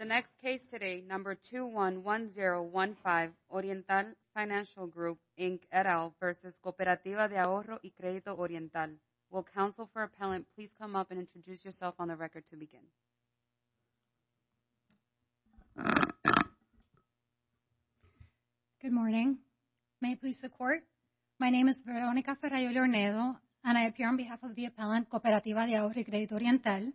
The next case today, number 211015, Oriental Financial Group, Inc., et al. v. Cooperativa de Ahorro y Credito Oriental. Will counsel for appellant please come up and introduce yourself on the record to begin? Good morning. May it please the Court? My name is Veronica Ferraiole Ornedo, and I appear on behalf of the appellant, Cooperativa de Ahorro y Credito Oriental.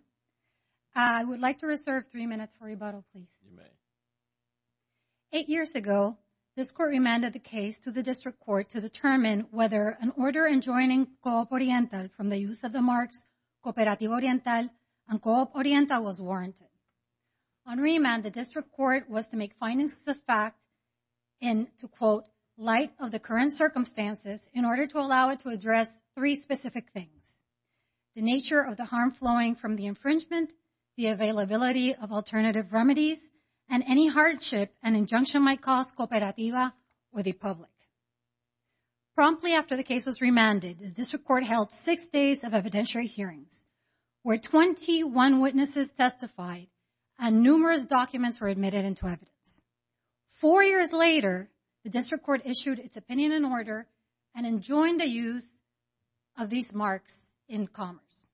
I would like to reserve three minutes for rebuttal, please. You may. Eight years ago, this Court remanded the case to the District Court to determine whether an order enjoining COOP Oriental from the use of the marks Cooperativo Oriental and COOP Oriental was warranted. On remand, the District Court was to make findings of fact in, to quote, light of the current circumstances in order to allow it to address three specific things. The nature of the harm flowing from the infringement, the availability of alternative remedies, and any hardship an injunction might cause Cooperativa or the public. Promptly after the case was remanded, the District Court held six days of evidentiary hearings where 21 witnesses testified and numerous documents were admitted into evidence. Four years later, the District Court issued its opinion and order and enjoined the use of these marks in commerce.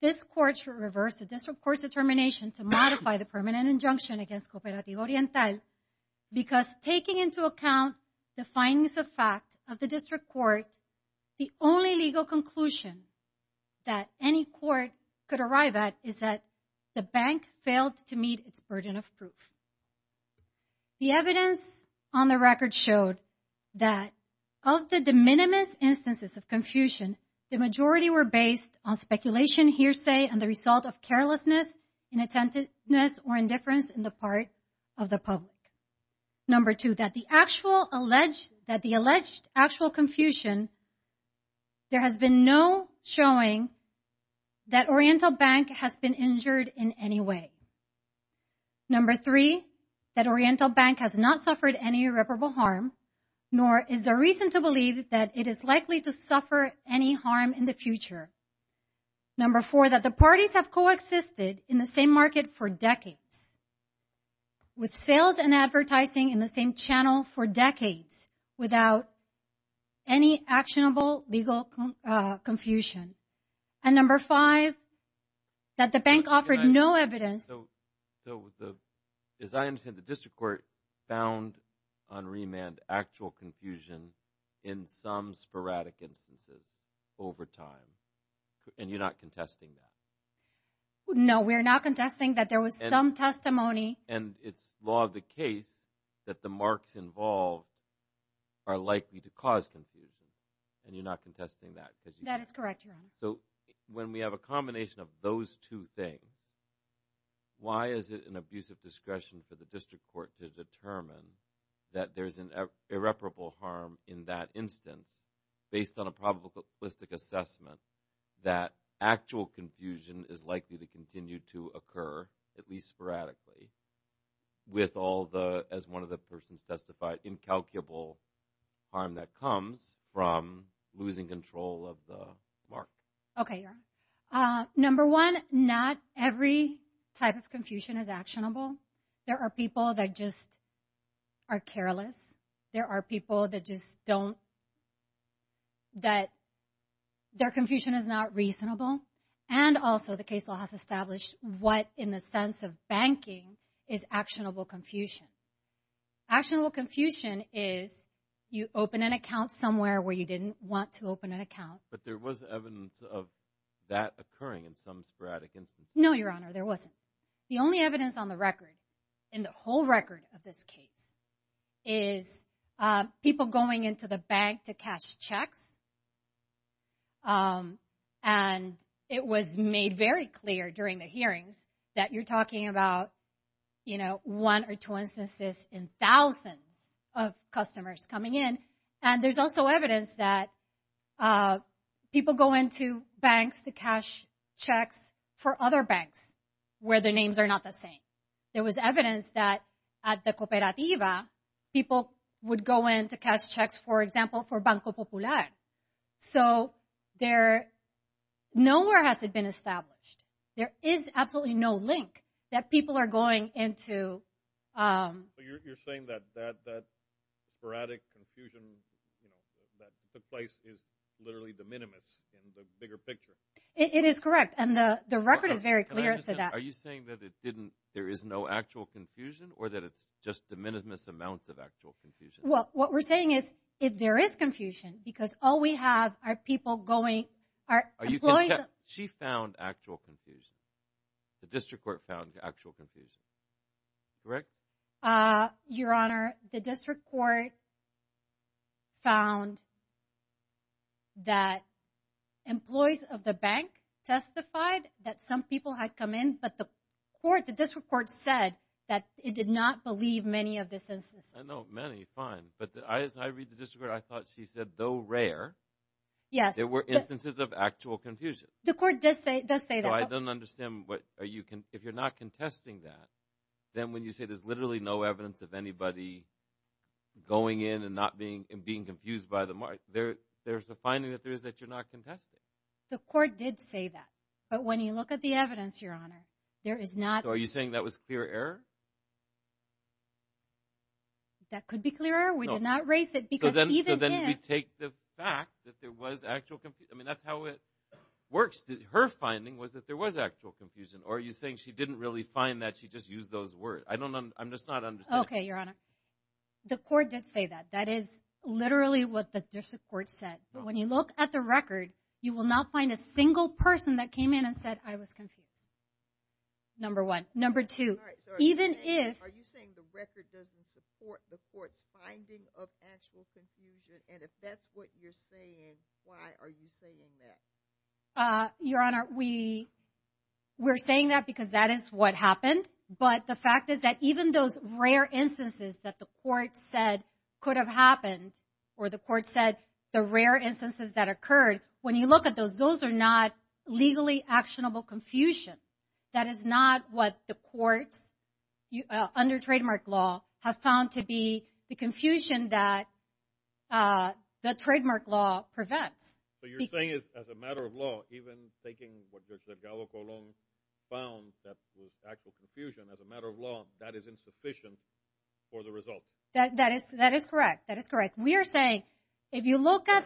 This Court reversed the District Court's determination to modify the permanent injunction against Cooperativo Oriental because taking into account the findings of fact of the District Court, the only legal conclusion that any court could arrive at is that the bank failed to meet its burden of proof. The evidence on the record showed that of the de minimis instances of confusion, the majority were based on speculation, hearsay, and the result of carelessness, inattentiveness, or indifference in the part of the public. Number two, that the actual alleged, that the alleged actual confusion, there has been no showing that Oriental Bank has been injured in any way. Number three, that Oriental Bank has not suffered any irreparable harm, nor is there reason to believe that it is likely to suffer any harm in the future. Number four, that the parties have coexisted in the same market for decades, with sales and advertising in the same channel for decades, without any actionable legal confusion. And number five, that the bank offered no evidence. So, as I understand, the District Court found on remand actual confusion in some sporadic instances over time, and you're not contesting that? No, we're not contesting that there was some testimony. And it's law of the case that the marks involved are likely to cause confusion, and you're not contesting that? That is correct, Your Honor. So, when we have a combination of those two things, why is it an abuse of discretion for the District Court to determine that there's an irreparable harm in that instance, based on a probabilistic assessment that actual confusion is likely to continue to occur, at least sporadically, with all the, as one of the persons testified, incalculable harm that comes from losing control of the mark? Okay, Your Honor. Number one, not every type of confusion is actionable. There are people that just are careless. There are people that just don't, that their confusion is not reasonable. And also, the case law has established what, in the sense of banking, is actionable confusion. Actionable confusion is, you open an account somewhere where you didn't want to open an But there was evidence of that occurring in some sporadic instances? No, Your Honor, there wasn't. The only evidence on the record, in the whole record of this case, is people going into the bank to cash checks, and it was made very clear during the hearings that you're talking about, you know, one or two instances in thousands of customers coming in, and there's also evidence that people go into banks to cash checks for other banks where their names are not the same. There was evidence that at the Cooperativa, people would go in to cash checks, for example, for Banco Popular. So there, nowhere has it been established. There is absolutely no link that people are going into. You're saying that that sporadic confusion that took place is literally de minimis in the bigger picture? It is correct, and the record is very clear as to that. Are you saying that it didn't, there is no actual confusion, or that it's just de minimis amounts of actual confusion? Well, what we're saying is, if there is confusion, because all we have are people going, are She found actual confusion, the district court found actual confusion, correct? Your Honor, the district court found that employees of the bank testified that some people had come in, but the court, the district court said that it did not believe many of the instances. I know, many, fine, but as I read the district court, I thought she said, though rare, there were instances of actual confusion. The court does say that. No, I don't understand what, if you're not contesting that, then when you say there's literally no evidence of anybody going in and not being, and being confused by the mark, there's a finding that there is, that you're not contesting. The court did say that, but when you look at the evidence, Your Honor, there is not. So are you saying that was clear error? That could be clear error, we did not erase it, because even then. I take the fact that there was actual confusion, I mean that's how it works, her finding was that there was actual confusion, or are you saying she didn't really find that, she just used those words? I don't understand. Okay, Your Honor, the court did say that, that is literally what the district court said. When you look at the record, you will not find a single person that came in and said I was confused. Number one. Number two, even if. Are you saying the record doesn't support the court's finding of actual confusion, and if that's what you're saying, why are you saying that? Your Honor, we're saying that because that is what happened, but the fact is that even those rare instances that the court said could have happened, or the court said the rare instances that occurred, when you look at those, those are not legally actionable confusion. That is not what the courts, under trademark law, have found to be the confusion that the trademark law prevents. So you're saying that as a matter of law, even taking what Judge Delgado-Colón found that was actual confusion as a matter of law, that is insufficient for the result? That is correct, that is correct. We are saying, if you look at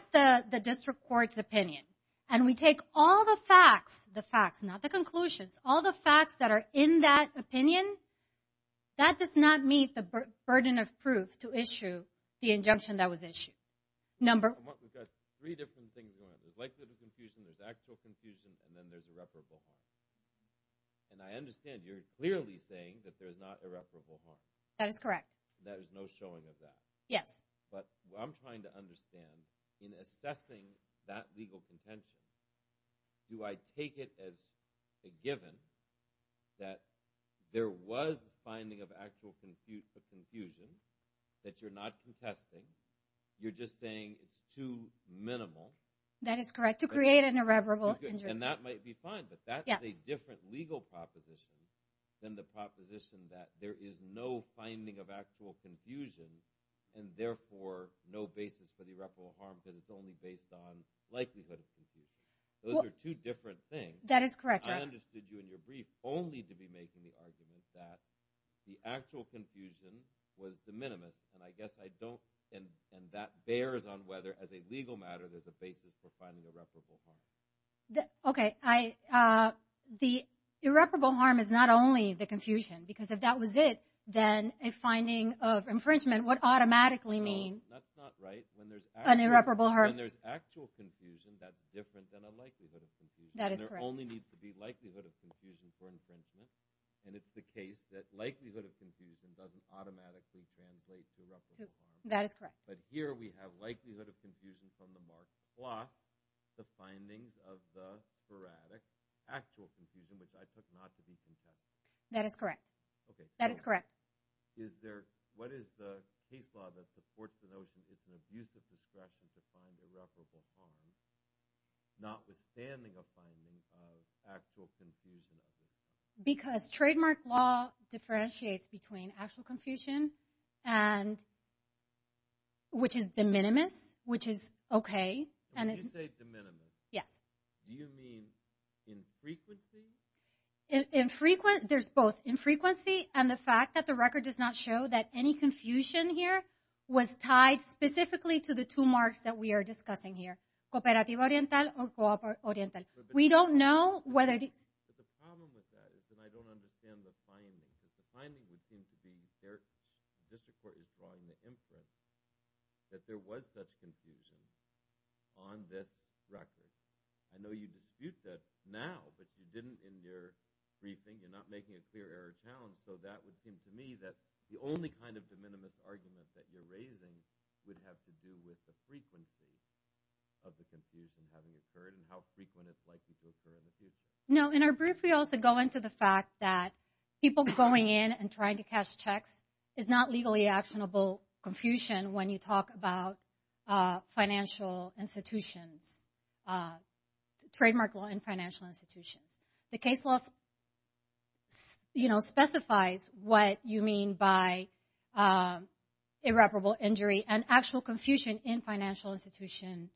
the district court's opinion, and we take all the facts, the facts, not the conclusions, all the facts that are in that opinion, that does not meet the burden of proof to issue the injunction that was issued. Number one. We've got three different things going on. There's likelihood of confusion, there's actual confusion, and then there's irreparable harm. And I understand you're clearly saying that there's not irreparable harm. That is correct. There's no showing of that. Yes. But what I'm trying to understand, in assessing that legal contention, do I take the facts as a given, that there was a finding of actual confusion, that you're not contesting, you're just saying it's too minimal? That is correct. To create an irreparable injury. And that might be fine, but that's a different legal proposition than the proposition that there is no finding of actual confusion, and therefore no basis for the irreparable harm that is only based on likelihood of confusion. Those are two different things. That is correct. I understood you in your brief only to be making the argument that the actual confusion was the minimum, and I guess I don't, and that bears on whether as a legal matter there's a basis for finding irreparable harm. Okay. The irreparable harm is not only the confusion, because if that was it, then a finding of infringement would automatically mean an irreparable harm. When there's actual confusion, that's different than a likelihood of confusion. That is correct. And there only needs to be likelihood of confusion for infringement, and it's the case that likelihood of confusion doesn't automatically translate to irreparable harm. That is correct. But here we have likelihood of confusion from the Marx plot, the findings of the veratic, actual confusion, which I took not to be contested. That is correct. Okay. That is correct. Is there, what is the case law that supports the notion that it's an abusive distraction to find irreparable harm, notwithstanding a finding of actual confusion? Because trademark law differentiates between actual confusion and, which is de minimis, which is okay. When you say de minimis, do you mean infrequency? Infrequency. There's both infrequency and the fact that the record does not show that any confusion here was tied specifically to the two marks that we are discussing here, cooperativa oriental or cooper oriental. We don't know whether it is. But the problem with that is that I don't understand the finding. The finding would seem to be that there was such confusion on this record. I know you dispute that now, but you didn't in your briefing. You're not making a clear error of town. So that would seem to me that the only kind of de minimis argument that you're raising would have to do with the frequency of the confusion having occurred and how frequent it's likely to occur in the future. No. In our brief, we also go into the fact that people going in and trying to cash checks is not legally actionable confusion when you talk about financial institutions, trademark law in financial institutions. The case law specifies what you mean by irreparable injury and actual confusion in financial institutions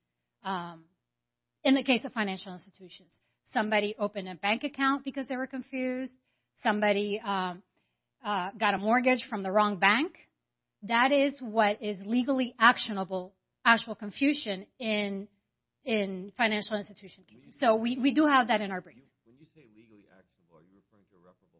in the case of financial institutions. Somebody opened a bank account because they were confused. Somebody got a mortgage from the wrong bank. That is what is legally actionable actual confusion in financial institutions. So we do have that in our brief. When you say legally actionable, are you referring to irreparable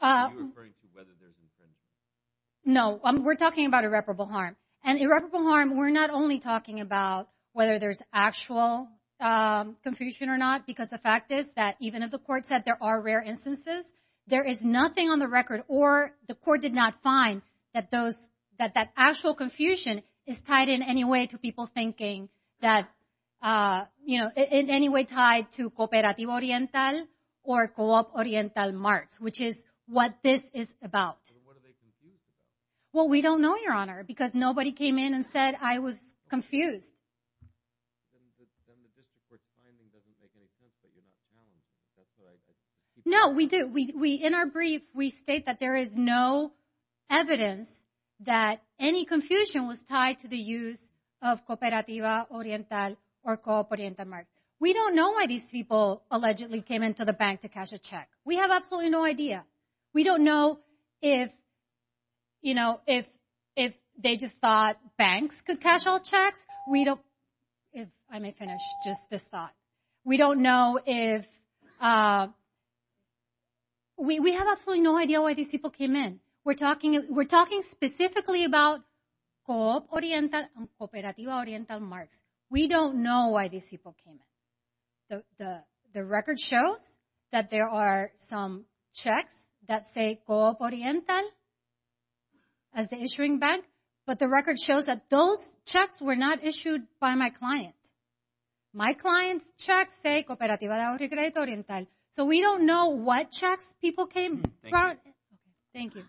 harm? Are you referring to whether there's incentive? No. We're talking about irreparable harm. And irreparable harm, we're not only talking about whether there's actual confusion or not, because the fact is that even if the court said there are rare instances, there is nothing on the record or the court did not find that that actual confusion is tied in any way to people thinking that, you know, in any way tied to Cooperativo Oriental or Co-op Oriental Marts, which is what this is about. What are they confused about? Well, we don't know, Your Honor, because nobody came in and said, I was confused. Then the district court's timing doesn't make any sense that you're not counting. That's what I think. No, we do. In our brief, we state that there is no evidence that any confusion was tied to the use of Cooperativo Oriental or Co-op Oriental Mart. We don't know why these people allegedly came into the bank to cash a check. We have absolutely no idea. We don't know if, you know, if they just thought banks could cash all checks. We don't, if I may finish, just this thought. We don't know if, we have absolutely no idea why these people came in. We're talking specifically about Co-op Oriental and Cooperativo Oriental Marts. We don't know why these people came in. The record shows that there are some checks that say Co-op Oriental as the issuing bank, but the record shows that those checks were not issued by my client. My client's checks say Cooperativo Oriental. So we don't know what checks people came from. Thank you.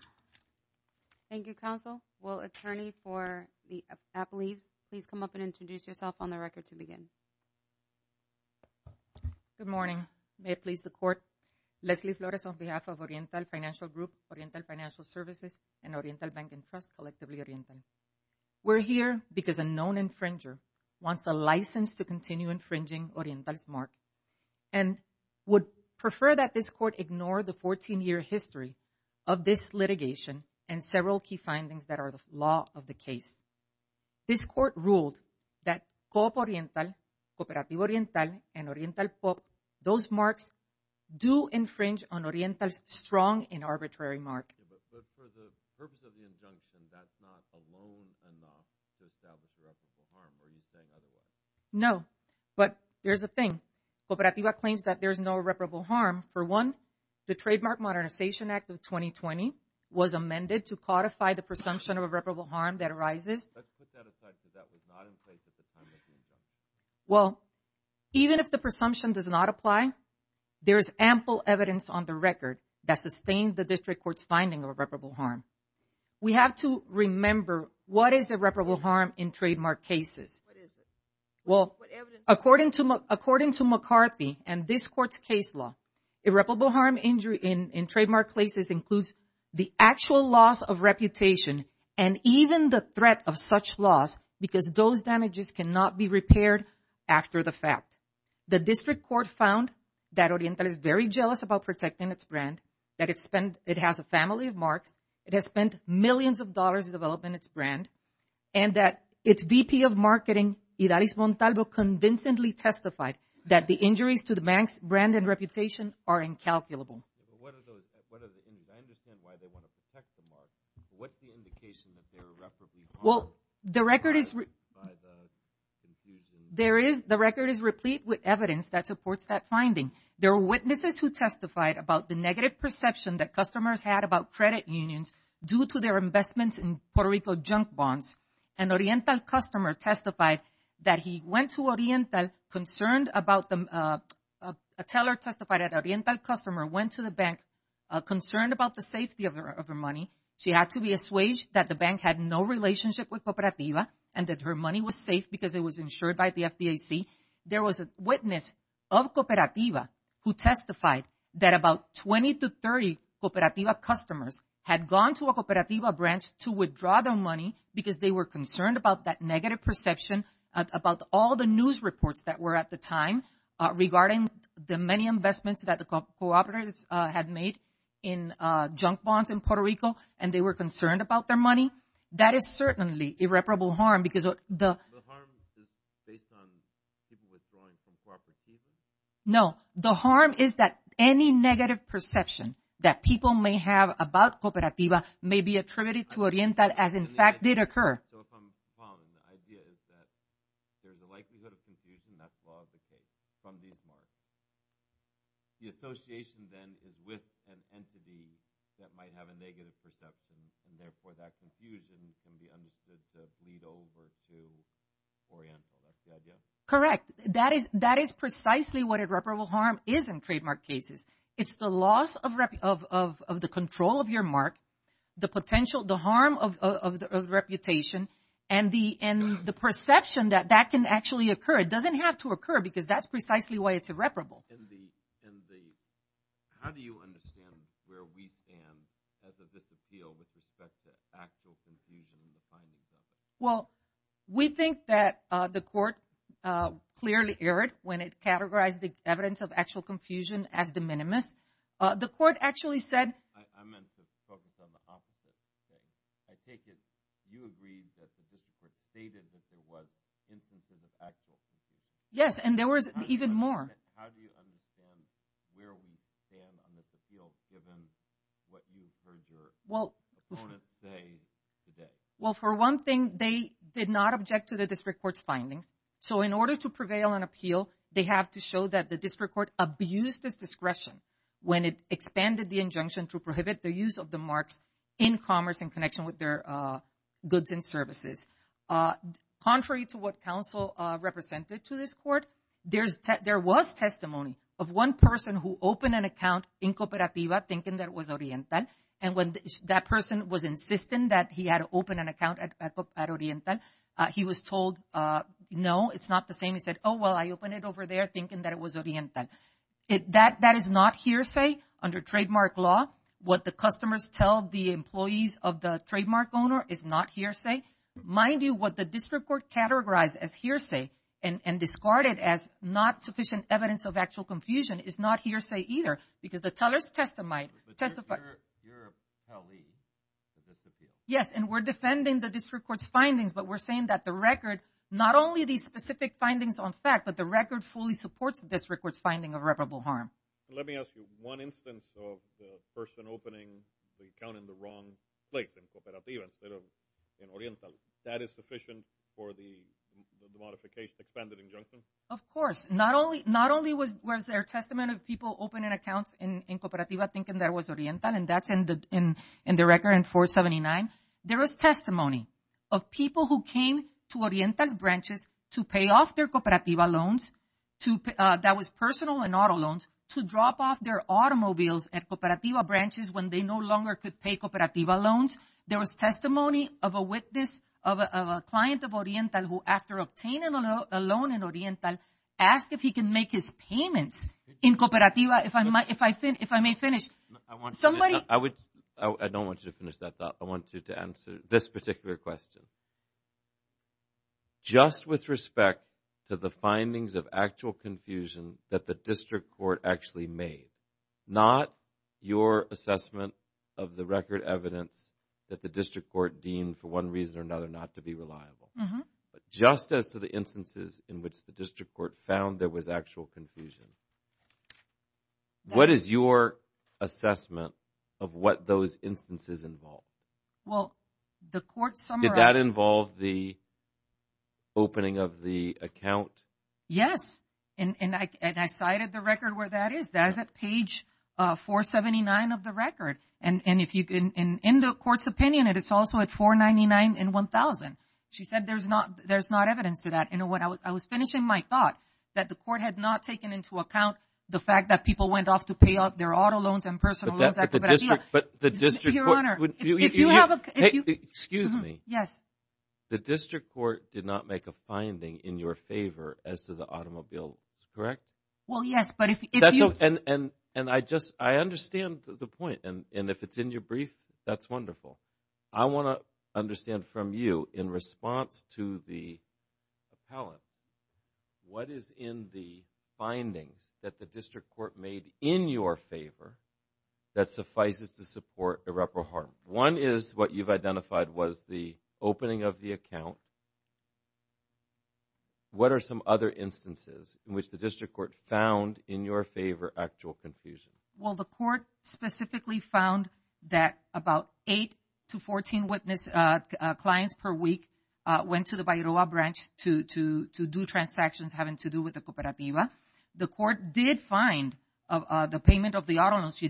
Thank you, counsel. Will attorney for the appellees, please come up and introduce yourself on the record to begin. Good morning. May it please the court. Leslie Flores on behalf of Oriental Financial Group, Oriental Financial Services, and Oriental Bank and Trust, collectively Oriental. We're here because a known infringer wants a license to continue infringing Oriental's mark and would prefer that this court ignore the 14-year history of this litigation and several key findings that are the law of the case. This court ruled that Co-op Oriental, Cooperativo Oriental, and Oriental Co-op, those marks do infringe on Oriental's strong and arbitrary mark. But for the purpose of the injunction, that's not alone enough to establish irreparable harm. Are you saying otherwise? No, but there's a thing. Cooperativo claims that there's no irreparable harm. For one, the Trademark Modernization Act of 2020 was amended to codify the presumption of irreparable harm that arises. Let's put that aside because that was not in place at the time of the injunction. Well, even if the presumption does not apply, there is ample evidence on the record that sustained the district court's finding of irreparable harm. We have to remember what is irreparable harm in trademark cases. What is it? Well, according to McCarthy and this court's case law, irreparable harm in trademark cases includes the actual loss of reputation and even the threat of such loss because those damages cannot be repaired after the fact. The district court found that Oriental is very jealous about protecting its brand, that it has a family of marks, it has spent millions of dollars developing its brand, and that its VP of Marketing, Idalis Montalvo, convincingly testified that the injuries to the bank's brand and reputation are incalculable. What are those injuries? I understand why they want to protect the mark. What's the indication that they're irreparably harmed by the confusion? The record is replete with evidence that supports that finding. There were witnesses who testified about the negative perception that customers had about credit unions due to their investments in Puerto Rico junk bonds. An Oriental customer testified that he went to Oriental, a teller testified that an Oriental customer went to the bank concerned about the safety of her money. She had to be assuaged that the bank had no relationship with Cooperativa and that her money was safe because it was insured by the FDIC. There was a witness of Cooperativa who testified that about 20 to 30 Cooperativa customers had gone to a Cooperativa branch to withdraw their money because they were concerned about that negative perception about all the news reports that were at the time regarding the many investments that the cooperatives had made in junk bonds in Puerto Rico and they were concerned about their money. That is certainly irreparable harm because of the... The harm is based on people withdrawing from Cooperativa? No, the harm is that any negative perception that people may have about Cooperativa may be attributed to Oriental as in fact did occur. So if I'm following, the idea is that there's a likelihood of confusion that's part of the case from these marks. The association then is with an entity that might have a negative perception and therefore that confusion can be understood to lead over to Oriental. That's the idea? Correct. That is precisely what irreparable harm is in trademark cases. It's the loss of the control of your mark, the potential, the harm of the reputation and the perception that that can actually occur. It doesn't have to occur because that's precisely why it's irreparable. And the... How do you understand where we stand as of this appeal with respect to actual confusion in the findings? Well, we think that the court clearly erred when it categorized the evidence of actual confusion as de minimis. The court actually said... I meant to focus on the opposite. I take it you agree that the district stated that there was instances of actual confusion? Yes, and there was even more. How do you understand where we stand on this appeal given what you heard your opponents say today? Well, for one thing, they did not object to the district court's findings. So in order to prevail on appeal, they have to show that the district court abused its discretion when it expanded the injunction to prohibit the use of the marks in commerce in connection with their goods and services. Contrary to what counsel represented to this court, there was testimony of one person who opened an account in Cooperativa thinking that it was Oriental. And when that person was insisting that he had opened an account at Oriental, he was told, no, it's not the same. He said, oh, well, I opened it over there thinking that it was Oriental. That is not hearsay under trademark law. What the customers tell the employees of the trademark owner is not hearsay. Mind you, what the district court categorized as hearsay and discarded as not sufficient evidence of actual confusion is not hearsay either. Because the tellers testified. But you're a pally to this appeal. Yes, and we're defending the district court's findings, but we're saying that the record, not only these specific findings on fact, but the record fully supports this district court's finding of irreparable harm. Let me ask you, one instance of the person opening the account in the wrong place, in Cooperativa, instead of in Oriental, that is sufficient for the modification, expanded injunction? Of course. Not only was there a testament of people opening accounts in Cooperativa thinking that it was Oriental, and that's in the record in 479, there was testimony of people who came to Oriental's branches to pay off their Cooperativa loans, that was personal and auto loans, to drop off their automobiles at Cooperativa branches when they no longer could pay Cooperativa loans. There was testimony of a witness, of a client of Oriental who, after obtaining a loan in Oriental, asked if he could make his payments in Cooperativa, if I may finish. I don't want you to finish that thought. I want you to answer this particular question. Just with respect to the findings of actual confusion that the district court actually made, not your assessment of the record evidence that the district court deemed, for one reason or another, not to be reliable, just as to the instances in which the district court found there was actual confusion, what is your assessment of what those instances involved? Did that involve the opening of the account? Yes, and I cited the record where that is, that is at page 479 of the record. In the court's opinion, it is also at 499 and 1000. She said there's not evidence to that. I was finishing my thought that the court had not taken into account the fact that people went off to pay off their auto loans and personal loans at Cooperativa. Your Honor, if you have a... Excuse me. The district court did not make a finding in your favor as to the automobiles. Correct? Well, yes, but if you... I understand the point, and if it's in your brief, that's wonderful. I want to understand from you, in response to the appellant, what is in the findings that the district court made in your favor that suffices to support irreparable harm? One is what you've identified was the opening of the account. What are some other instances in which the district court found in your favor actual confusion? Well, the court specifically found that about 8 to 14 witness clients per week went to the Bayroa branch to do transactions having to do with the Cooperativa. The court did find the payment of the auto loans.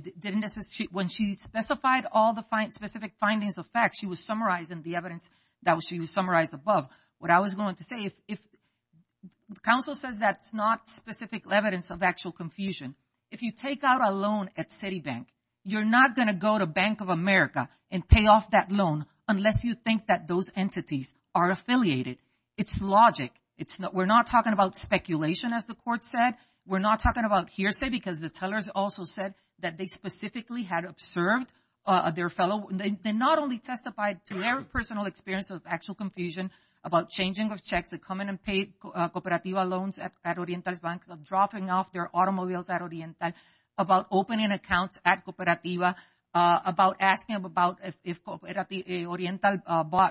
When she specified all the specific findings of facts, she was summarizing the evidence that was summarized above. What I was going to say, if counsel says that's not specific evidence of actual confusion, if you take out a loan at Citibank, you're not going to go to Bank of America and pay off that loan unless you think that those entities are affiliated. It's logic. We're not talking about speculation, as the court said. We're not talking about hearsay, because the tellers also said that they specifically had observed their fellow. They not only testified to their personal experience of actual confusion about changing of checks that come in and pay Cooperativa loans at Oriental's banks, of dropping off their automobiles at Oriental, about opening accounts at Cooperativa, about asking about if Oriental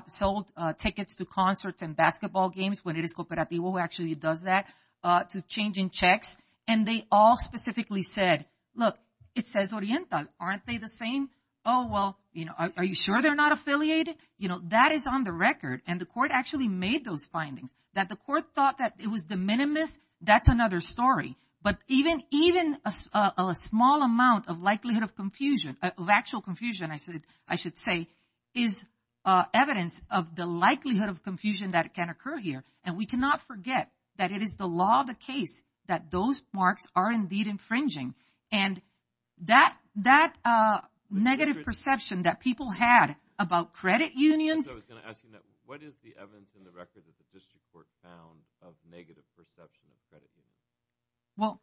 sold tickets to concerts and basketball games, when it is Cooperativa who actually does that, to changing checks. And they all specifically said, look, it says Oriental. Aren't they the same? Oh, well, are you sure they're not affiliated? That is on the record. And the court actually made those findings. That the court thought that it was de minimis, that's another story. But even a small amount of likelihood of confusion, of actual confusion, I should say, is evidence of the likelihood of confusion that can occur here. And we cannot forget that it is the law of the And that negative perception that people had about credit unions I was going to ask you that. What is the evidence in the record that the district court found of negative perception of credit unions? Well,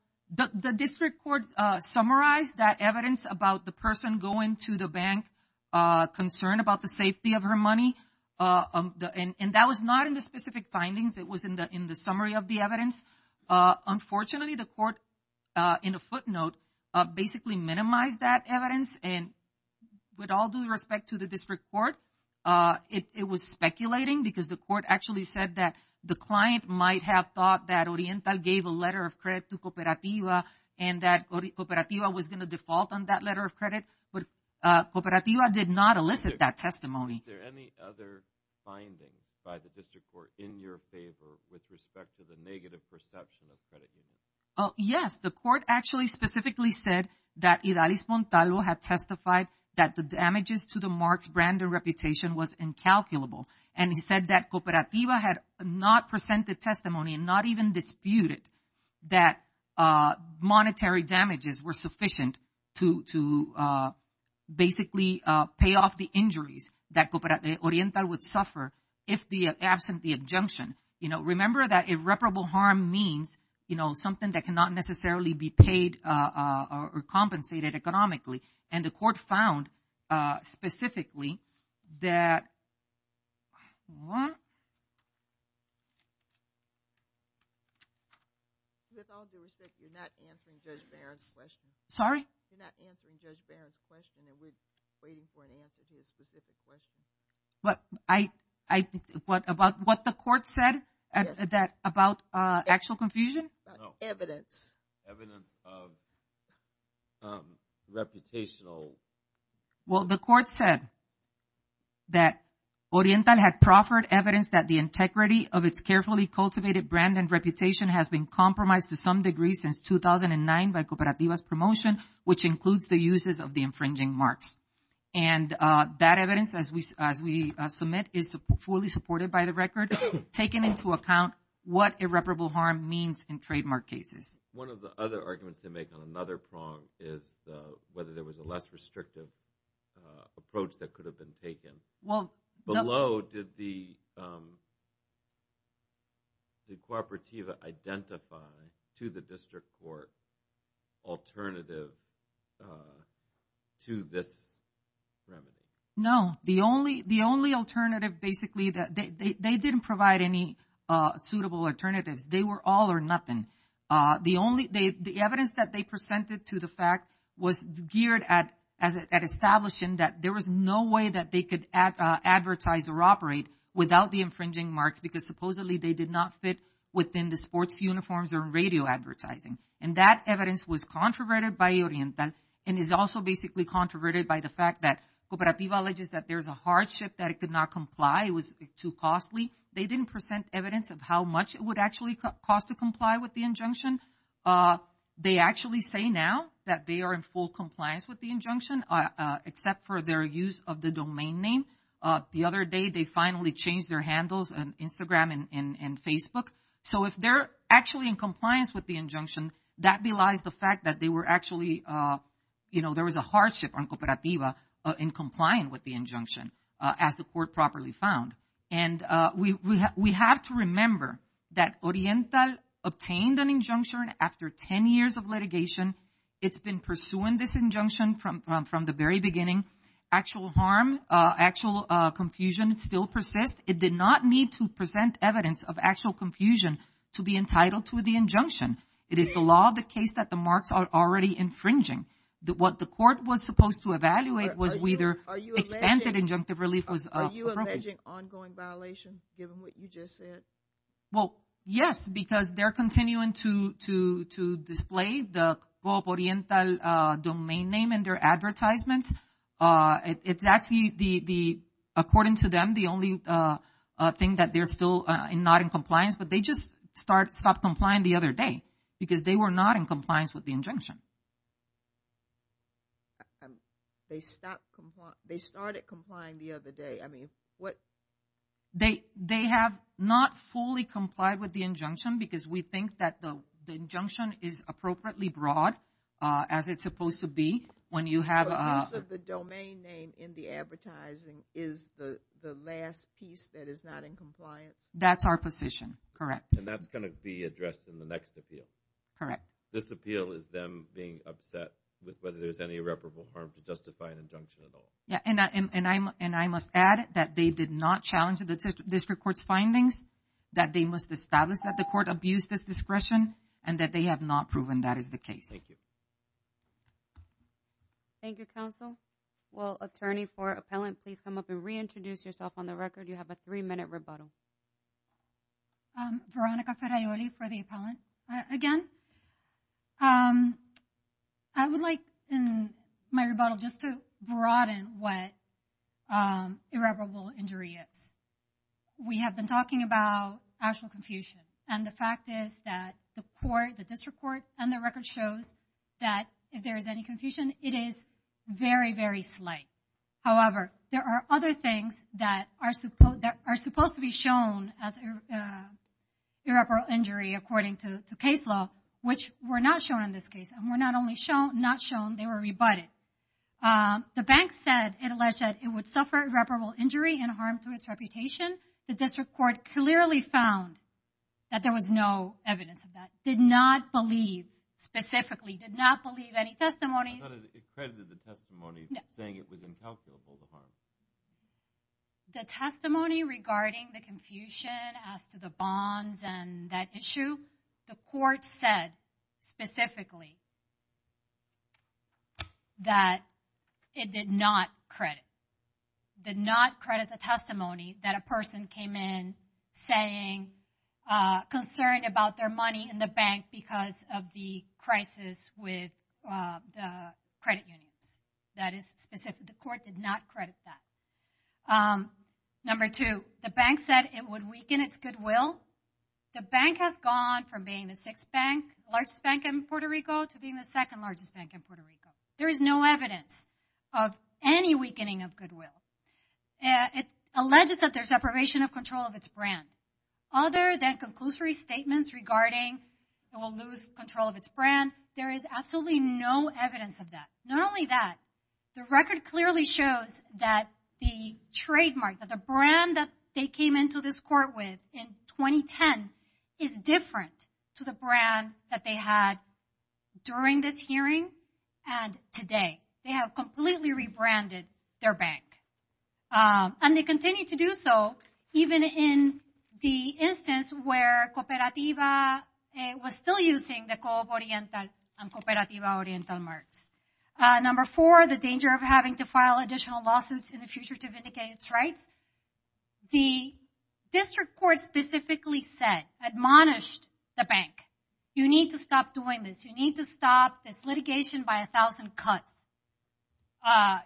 the district court summarized that evidence about the person going to the bank concerned about the safety of her money. And that was not in the specific findings. It was in the summary of the evidence. Unfortunately, the court, in a footnote, basically minimized that evidence. And with all due respect to the district court, it was speculating because the court actually said that the client might have thought that Oriental gave a letter of credit to Cooperativa and that Cooperativa was going to default on that letter of credit. Cooperativa did not elicit that testimony. Is there any other finding by the district court in your favor with respect to the negative perception of credit unions? Yes, the court actually specifically said that Idalis Montalvo had testified that the damages to the Marks brand and reputation was incalculable. And he said that Cooperativa had not presented testimony and not even disputed that monetary damages were sufficient to basically pay off the injuries that Cooperativa Oriental would suffer if absent the adjunction. Remember that irreparable harm means something that cannot necessarily be paid or compensated economically. And the court found specifically that With all due respect, you're not answering Judge Barron's question. Sorry? You're not answering Judge Barron's question. We're waiting for an answer to a specific question. What the court said about actual confusion? Reputational. Well, the court said that Oriental had proffered evidence that the integrity of its carefully cultivated brand and reputation has been compromised to some degree since 2009 by Cooperativa's promotion, which includes the uses of the infringing marks. And that evidence, as we submit, is fully supported by the record, taking into account what irreparable harm means in trademark cases. One of the other arguments they make on another prong is whether there was a less restrictive approach that could have been taken. Below, did the Cooperativa identify to the district court alternative to this remedy? No. The only alternative, basically, they didn't provide any suitable alternatives. They were all or nothing. The evidence that they presented to the fact was geared at establishing that there was no way that they could advertise or operate without the infringing marks because supposedly they did not fit within the sports uniforms or radio advertising. And that evidence was controverted by Oriental and is also basically controverted by the fact that Cooperativa alleges that there's a hardship that it could not comply. It was too costly. They didn't present evidence of how much it would actually cost to comply with the injunction. They actually say now that they are in full compliance with the injunction, except for their use of the domain name. The other day they finally changed their handles on Instagram and Facebook. So if they're actually in compliance with the injunction, that belies the fact that they were actually there was a hardship on Cooperativa in complying with the injunction as the court properly found. And we have to remember that Oriental obtained an injunction after 10 years of litigation. It's been pursuing this injunction from the very beginning. Actual harm, actual confusion still persists. It did not need to present evidence of actual confusion to be entitled to the injunction. It is the law of the case that the marks are already infringing. What the court was supposed to evaluate was whether expanded injunctive relief was appropriate. Are you alleging ongoing violation given what you just said? Well, yes, because they're continuing to display the domain name in their advertisements. It's actually, according to them, the only thing that they're still not in compliance but they just stopped complying the other day because they were not in compliance with the injunction. They stopped, they started complying the other day. I mean, what? They have not fully complied with the injunction because we think that the injunction is appropriately broad as it's supposed to be when you have The use of the domain name in the advertising is the last piece that is not in compliance? That's our position, correct. And that's going to be addressed in the next appeal? Correct. This appeal is them being upset with whether there's any irreparable harm to justify an injunction at all? Yeah, and I must add that they did not challenge the district court's findings that they must establish that the court abused this discretion and that they have not proven that is the case. Thank you. Thank you, counsel. Will attorney for appellant please come up and reintroduce yourself on the record? You have a three minute rebuttal. Veronica Ferraioli for the appellant. Again, I would like in my rebuttal just to broaden what irreparable injury is. We have been talking about actual confusion. And the fact is that the court the district court and the record shows that if there is any confusion, it is very, very slight. However, there are other things that are supposed to be shown as irreparable injury according to case law which were not shown in this case. And were not only not shown, they were rebutted. The bank said it alleged that it would suffer irreparable injury and harm to its reputation. The district court clearly found that there was no evidence of that. Did not believe specifically. Did not believe any testimony It credited the testimony saying it was incalculable. The testimony regarding the confusion as to the bonds and that issue. The court said specifically that it did not credit. Did not credit the testimony that a person came in saying concerned about their money in the bank because of the crisis with credit unions. That is specific. The court did not credit that. Number two, the bank said it would weaken its goodwill. The bank has gone from being the sixth bank largest bank in Puerto Rico to being the second largest bank in Puerto Rico. There is no evidence of any weakening of goodwill. It alleges that there is deprivation of control of its brand. Other than conclusory statements regarding it will lose control of its brand, there is absolutely no evidence of that. Not only that, the record clearly shows that the trademark, that the brand that they came into this court with in 2010 is different to the brand that they had during this hearing and today. They have completely rebranded their bank. And they continue to do so even in the instance where Cooperativa was still using the Coop Oriental and Cooperativa Oriental marks. Number four, the danger of having to file additional lawsuits in the future to vindicate its rights. The district court specifically said, admonished the bank. You need to stop doing this. You need to stop this litigation by a thousand cuts.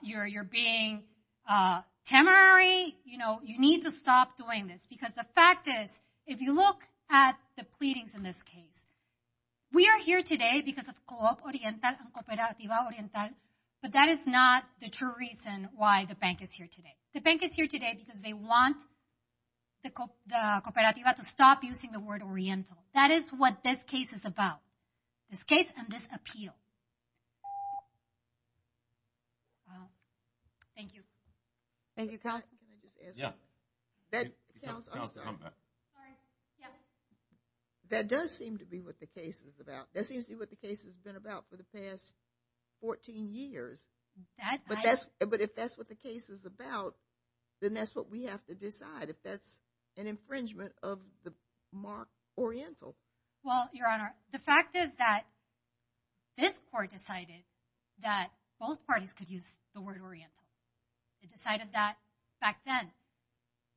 You're being temerary. You need to stop doing this. Because the fact is, if you look at the pleadings in this case, we are here today because of Coop Oriental and Cooperativa Oriental but that is not the true reason why the bank is here today. The bank is here today because they want the Cooperativa to stop using the word Oriental. That is what this case is about. This case and this appeal. Thank you. Thank you. That does seem to be what the case is about. That seems to be what the case has been about for the past 14 years. But if that's what the case is about, then that's what we have to decide. If that's an infringement of the mark Oriental. Well, Your Honor, the fact is that this court decided that both parties could use the word Oriental. It decided that back then.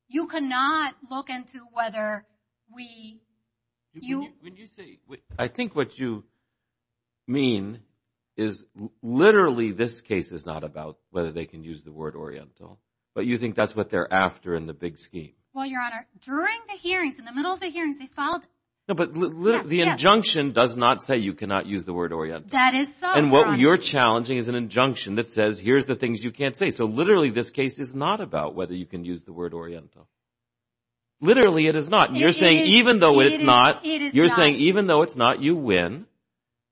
You cannot look into whether we When you say, I think what you mean is literally this case is not about whether they can use the word Oriental. But you think that's what they're after in the big scheme. Well, Your Honor, during the hearings, in the middle of the hearings, they followed No, but the injunction does not say you cannot use the word Oriental. That is so wrong. And what you're challenging is an injunction that says, here's the things you can't say. So literally, this case is not about whether you can use the word Oriental. Literally, it is not. You're saying even though it's not You're saying even though it's not, you win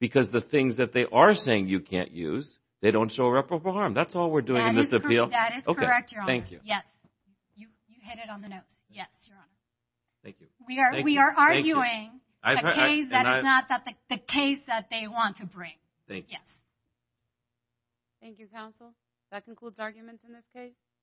because the things that they are saying you can't use they don't show reprehensible harm. That's all we're doing in this appeal. That is correct, Your Honor. Yes. You hit it on the nose. Yes, Your Honor. Thank you. We are arguing a case that is not the case that they want to bring. Thank you, counsel. That concludes arguments in this case.